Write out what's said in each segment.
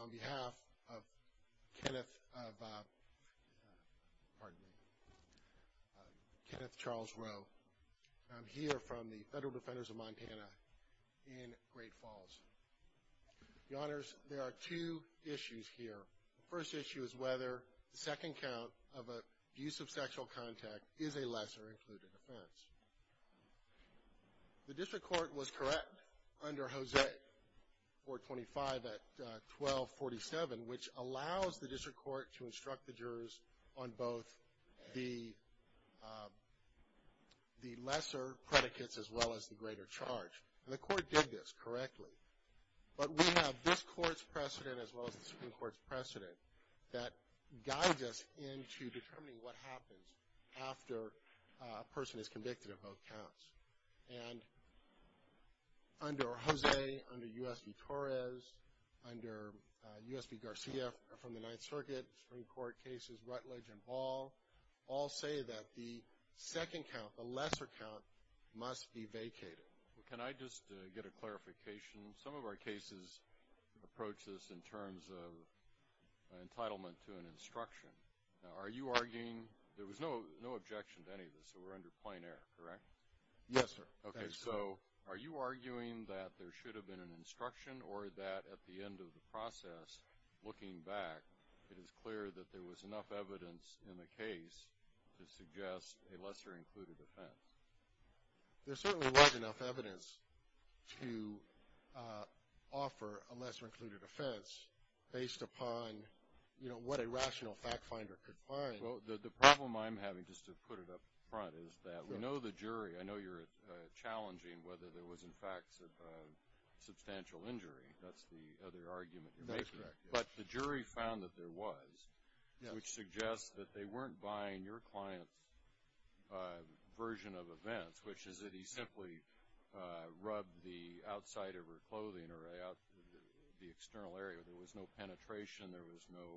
On behalf of Kenneth Charles Rowe, I'm here from the Federal Defenders of Montana in Great Falls. Your Honors, there are two issues here. First issue is whether the second count of an abuse of sexual contact is a lesser-included offense. The district court was correct under Hosea 425 at 1247, which allows the district court to instruct the jurors on both the lesser predicates as well as the greater charge. And the court did this correctly. But we have this court's precedent as well as the Supreme Court's precedent that guides us into determining what happens after a person is convicted of both counts. And under Hosea, under U.S. v. Torres, under U.S. v. Garcia from the Ninth Circuit, Supreme Court cases, Rutledge and Ball, all say that the second count, the lesser count, must be vacated. Can I just get a clarification? Some of our cases approach this in terms of entitlement to an instruction. Are you arguing, there was no objection to any of this, so we're under plain error, correct? Yes, sir. Okay, so are you arguing that there should have been an instruction or that at the end of the process, looking back, it is clear that there was enough evidence in the case to suggest a lesser-included offense? There certainly was enough evidence to offer a lesser-included offense based upon what a rational fact-finder could find. The problem I'm having, just to put it up front, is that we know the jury, I know you're challenging whether there was, in fact, substantial injury, that's the other argument you're making. But the jury found that there was, which suggests that they weren't buying your client's version of events, which is that he simply rubbed the outside of her clothing or the external area. There was no penetration. There was no...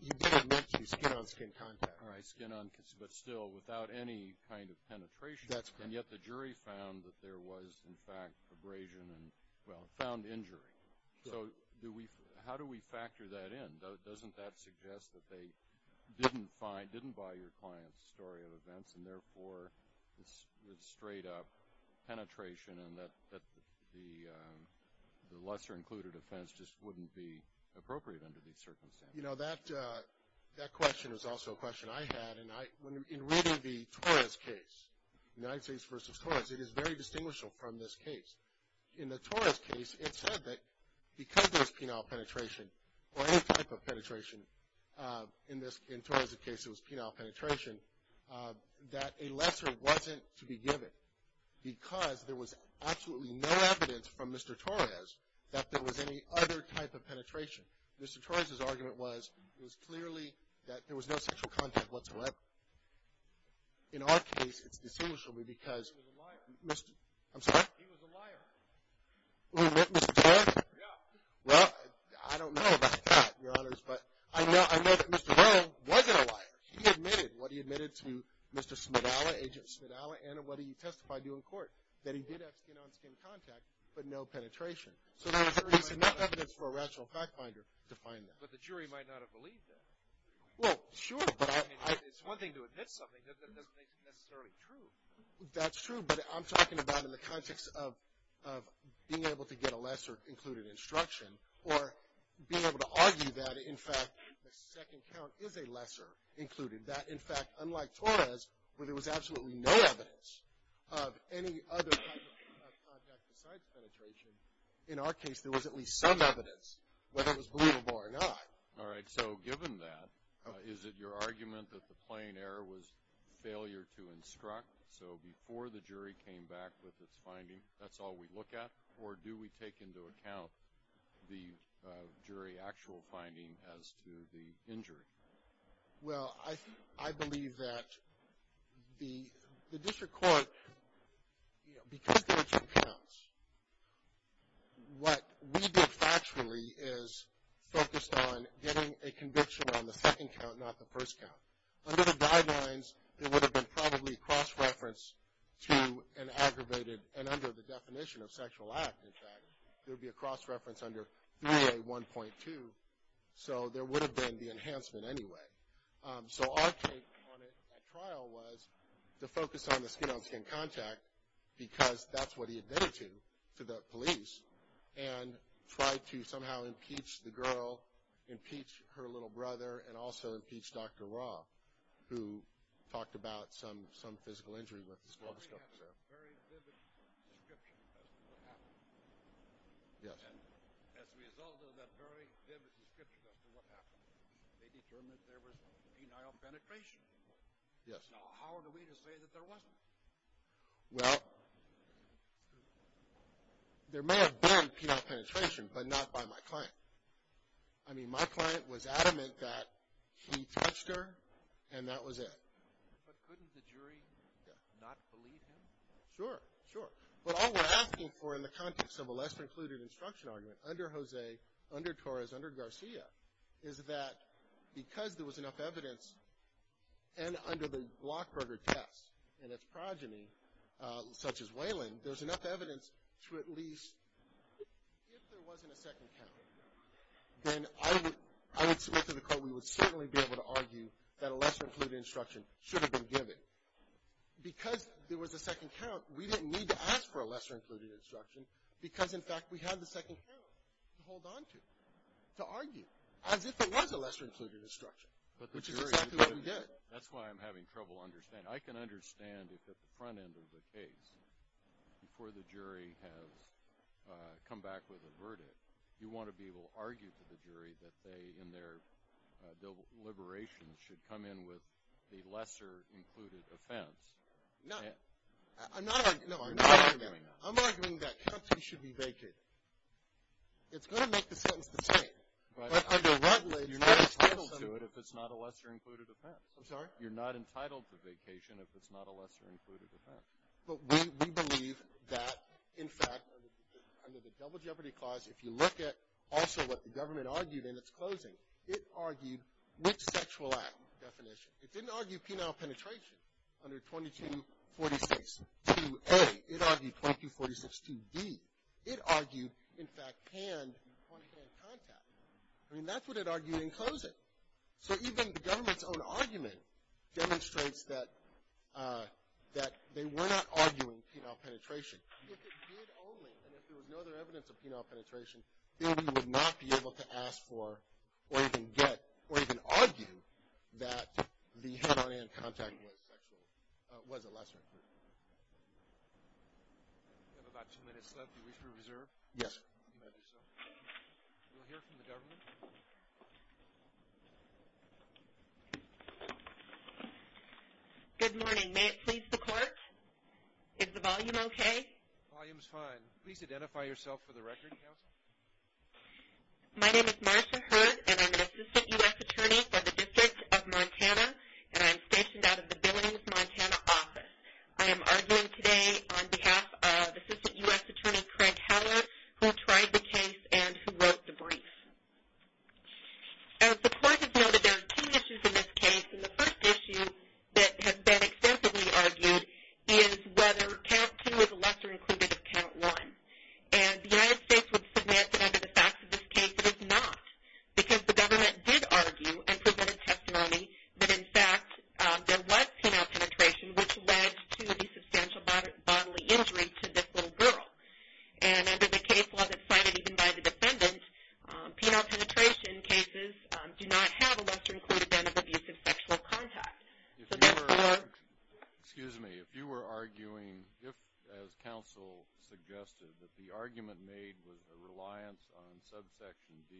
You didn't mention the skin-on-skin contact. Right, skin-on-skin, but still, without any kind of penetration, and yet the jury found that there was, in fact, abrasion and, well, found injury. So how do we factor that in? Doesn't that suggest that they didn't find, didn't buy your client's story of events, and therefore, it's straight-up penetration, and that the lesser-included offense just wouldn't be appropriate under these circumstances? You know, that question is also a question I had, and in reading the Torres case, United States v. Torres, it is very distinguishable from this case. In the Torres case, it said that because there was penile penetration, or any type of penetration, in Torres' case, it was penile penetration, that a lesser wasn't to be given, because there was absolutely no evidence from Mr. Torres that there was any other type of penetration. Mr. Torres' argument was, it was clearly that there was no sexual contact whatsoever. In our case, it's distinguishable because... I'm sorry? He was a liar. Mr. Torres? Yeah. Well, I don't know about that, Your Honors, but I know that Mr. Torres wasn't a liar. He admitted what he admitted to Mr. Smidalla, Agent Smidalla, and what he testified to in court, that he did have skin-on-skin contact, but no penetration. So there is enough evidence for a rational fact-finder to find that. But the jury might not have believed that. Well, sure, but I... I mean, it's one thing to admit something that doesn't make it necessarily true. That's true, but I'm talking about in the context of being able to get a lesser included instruction, or being able to argue that, in fact, the second count is a lesser included. That, in fact, unlike Torres, where there was absolutely no evidence of any other type of contact besides penetration, in our case, there was at least some evidence, whether it was believable or not. All right. So given that, is it your argument that the plain error was failure to instruct? So before the jury came back with its finding, that's all we look at? Or do we take into account the jury actual finding as to the injury? Well, I believe that the district court, because there are two counts, what we did factually is focused on getting a conviction on the second count, not the first count. Under the guidelines, there would have been probably a cross-reference to an aggravated, and under the definition of sexual act, in fact, there would be a cross-reference under 3A1.2. So there would have been the enhancement anyway. So our take on it at trial was to focus on the skin-on-skin contact, because that's what he admitted to, to the police, and try to somehow impeach the girl, impeach her little brother, and also impeach Dr. Ra, who talked about some physical injury with the school of discovery there. So they have a very vivid description as to what happened. Yes. And as a result of that very vivid description as to what happened, they determined there was penile penetration. Yes. Now, how are we to say that there wasn't? Well, there may have been penile penetration, but not by my client. I mean, my client was adamant that he touched her, and that was it. But couldn't the jury not believe him? Sure, sure. But all we're asking for in the context of a less-concluded instruction argument, under Jose, under Torres, under Garcia, is that because there was enough evidence, and under the Blockberger test, and its progeny, such as Waylon, there's enough evidence to at least, if there wasn't a second count, then I would submit to the court we would certainly be able to argue that a lesser-included instruction should have been given. Because there was a second count, we didn't need to ask for a lesser-included instruction, because, in fact, we had the second count to hold onto, to argue, as if it was a lesser-included instruction, which is exactly what we did. That's why I'm having trouble understanding. I can understand if at the front end of the case, before the jury has come back with a verdict, you want to be able to argue to the jury that they, in their deliberations, should come in with the lesser-included offense. No. I'm not arguing that. I'm arguing that county should be vacated. It's going to make the sentence the same. But under Rutledge, you're not entitled to it if it's not a lesser-included offense. I'm sorry? You're not entitled to vacation if it's not a lesser-included offense. But we believe that, in fact, under the Double Jeopardy Clause, if you look at also what the government argued in its closing, it argued which sexual act definition. It didn't argue penile penetration under 2246-2A. It argued 2246-2B. It argued, in fact, hand-to-hand contact. I mean, that's what it argued in closing. So even the government's own argument demonstrates that they were not arguing penile penetration. If it did only, and if there was no other evidence of penile penetration, then we would not be able to ask for, or even get, or even argue that the hand-on-hand contact was a lesser-included offense. We have about two minutes left. Do you wish to reserve? Yes. You may do so. We'll hear from the government. Good morning. May it please the Court? Is the volume okay? The volume's fine. Please identify yourself for the record, Counsel. My name is Marcia Hurd, and I'm an Assistant U.S. Attorney for the District of Montana, and I'm stationed out of the Billings, Montana, office. I am arguing today on behalf of Assistant U.S. Attorney Craig Heller, who tried the case and who wrote the brief. As the Court has noted, there are two issues in this case, and the first issue that has been extensively argued is whether Count 2 is a lesser-included of Count 1. And the United States would submit that, under the facts of this case, it is not, because the government did argue and presented testimony that, in fact, there was penile penetration, which led to the substantial bodily injury to this little girl. And under the case law that's cited even by the defendant, penile penetration cases do not have a lesser-included band of abusive sexual contact. If you were arguing, as Counsel suggested, that the argument made was a reliance on subsection D.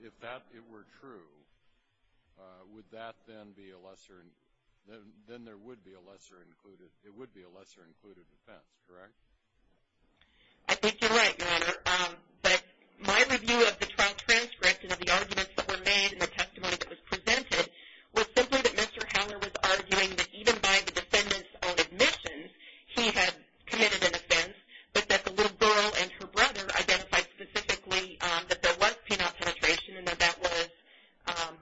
If that were true, would that then be a lesser- then there would be a lesser-included offense, correct? I think you're right, Your Honor. But my review of the trial transcript and of the arguments that were made and the testimony that was presented was simply that Mr. Heller was arguing that, even by the defendant's own admission, he had committed an offense, but that the little girl and her brother identified specifically that there was penile penetration and that that was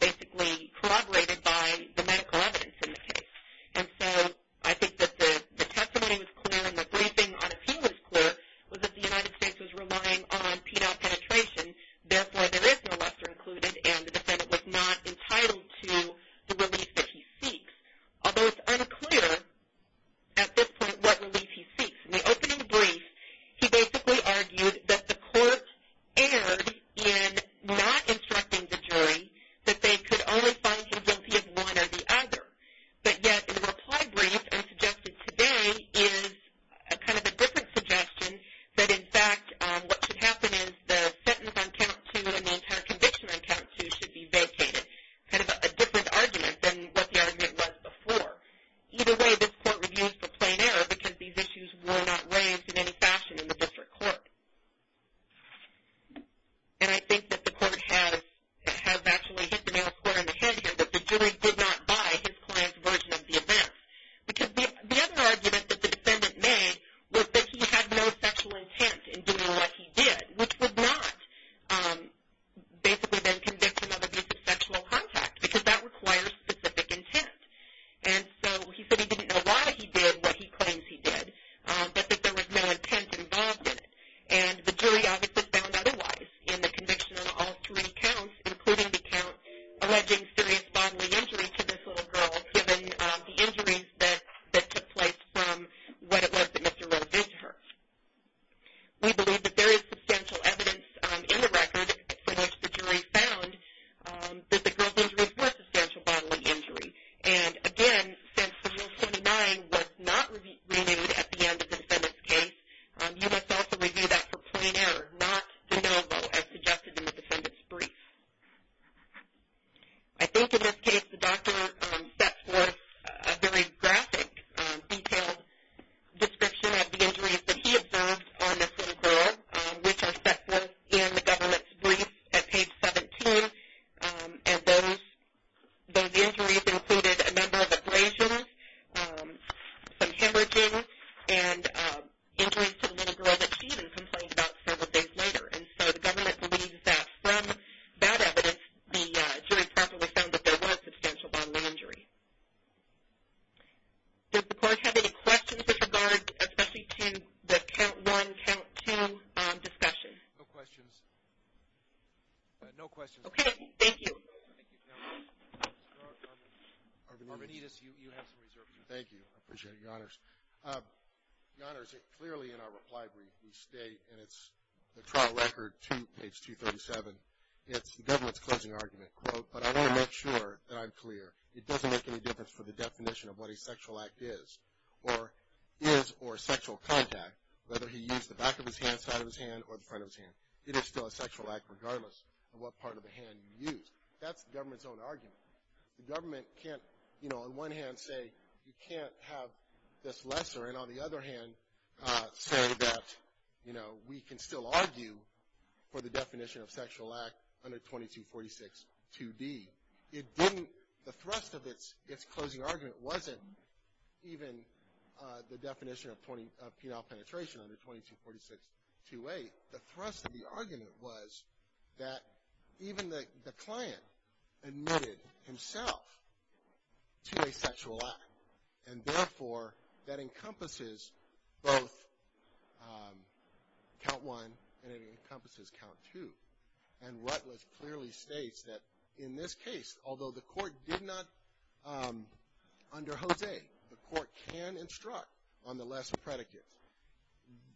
basically corroborated by the medical evidence in the case. And so I think that the testimony was clear and the briefing on appeal was clear, was that the United States was relying on penile penetration. Therefore, there is no lesser-included, and the defendant was not entitled to the relief that he seeks. Although it's unclear, at this point, what relief he seeks. In the opening brief, he basically argued that the court erred in not instructing the jury that they could only find him guilty of one or the other. But yet, in the reply brief and suggested today is kind of a different suggestion that, in fact, what should happen is the sentence on count two and the entire conviction on count two should be vacated. Kind of a different argument than what the argument was before. Either way, this court reviews for plain error because these issues were not raised in any fashion in the district court. And I think that the court has actually hit the nail square in the head here, that the jury did not buy his client's version of the event. Because the other argument that the defendant made was that he had no sexual intent in doing what he did, which would not basically then convict him of abuse of sexual contact, because that requires specific intent. And so he said he didn't know why he did what he claims he did, but that there was no intent involved in it. And the jury obviously found otherwise in the conviction on all three counts, including the count alleging serious bodily injury to this little girl, given the injuries that took place from what it was that Mr. Rose did to her. We believe that there is substantial evidence in the record from which the jury found that the girl's injuries were substantial bodily injury. And, again, since the Rule 79 was not renewed at the end of the defendant's case, you must also review that for plain error, not de novo, as suggested in the defendant's brief. I think in this case the doctor sets forth a very graphic, detailed description of the injuries that he observed on this little girl, which are set forth in the government's brief at page 17. And those injuries included a number of abrasions, some hemorrhaging, and injuries to the little girl that she didn't complain about several days later. And so the government believes that from that evidence, the jury probably found that there was substantial bodily injury. Does the court have any questions with regard especially to the count one, count two discussion? No questions. No questions. Okay, thank you. Thank you. Mr. Arvanites, you have some reservation. Thank you. I appreciate it, Your Honors. Your Honors, clearly in our reply brief we state, and it's the trial record to page 237, it's the government's closing argument. But I want to make sure that I'm clear. It doesn't make any difference for the definition of what a sexual act is or is or sexual contact, whether he used the back of his hand, side of his hand, or the front of his hand. It is still a sexual act regardless of what part of the hand you use. That's the government's own argument. The government can't, you know, on one hand say you can't have this lesser, and on the other hand say that, you know, we can still argue for the definition of sexual act under 2246-2D. It didn't, the thrust of its closing argument wasn't even the definition of penile penetration under 2246-2A. The thrust of the argument was that even the client admitted himself to a sexual act, and therefore that encompasses both count one and it encompasses count two. And Rutledge clearly states that in this case, although the court did not, under Jose, the court can instruct on the lesser predicates.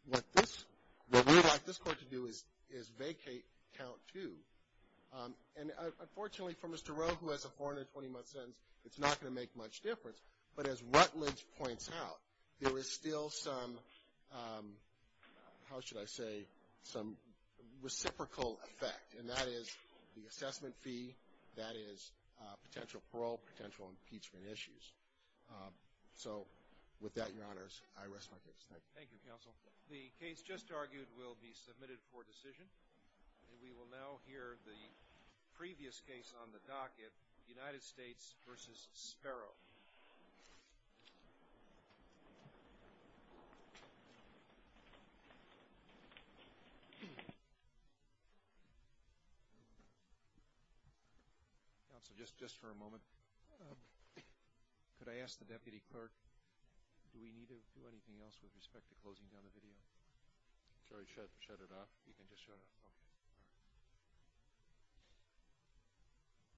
What we'd like this court to do is vacate count two. And unfortunately for Mr. Rowe, who has a 420-month sentence, it's not going to make much difference. But as Rutledge points out, there is still some, how should I say, some reciprocal effect, and that is the assessment fee, that is potential parole, potential impeachment issues. So with that, Your Honors, I rest my case. Thank you. Thank you, counsel. The case just argued will be submitted for decision. We will now hear the previous case on the docket, United States v. Sparrow. Counsel, just for a moment, could I ask the deputy clerk, do we need to do anything else with respect to closing down the video? Should I shut it off? You can just shut it off. Okay.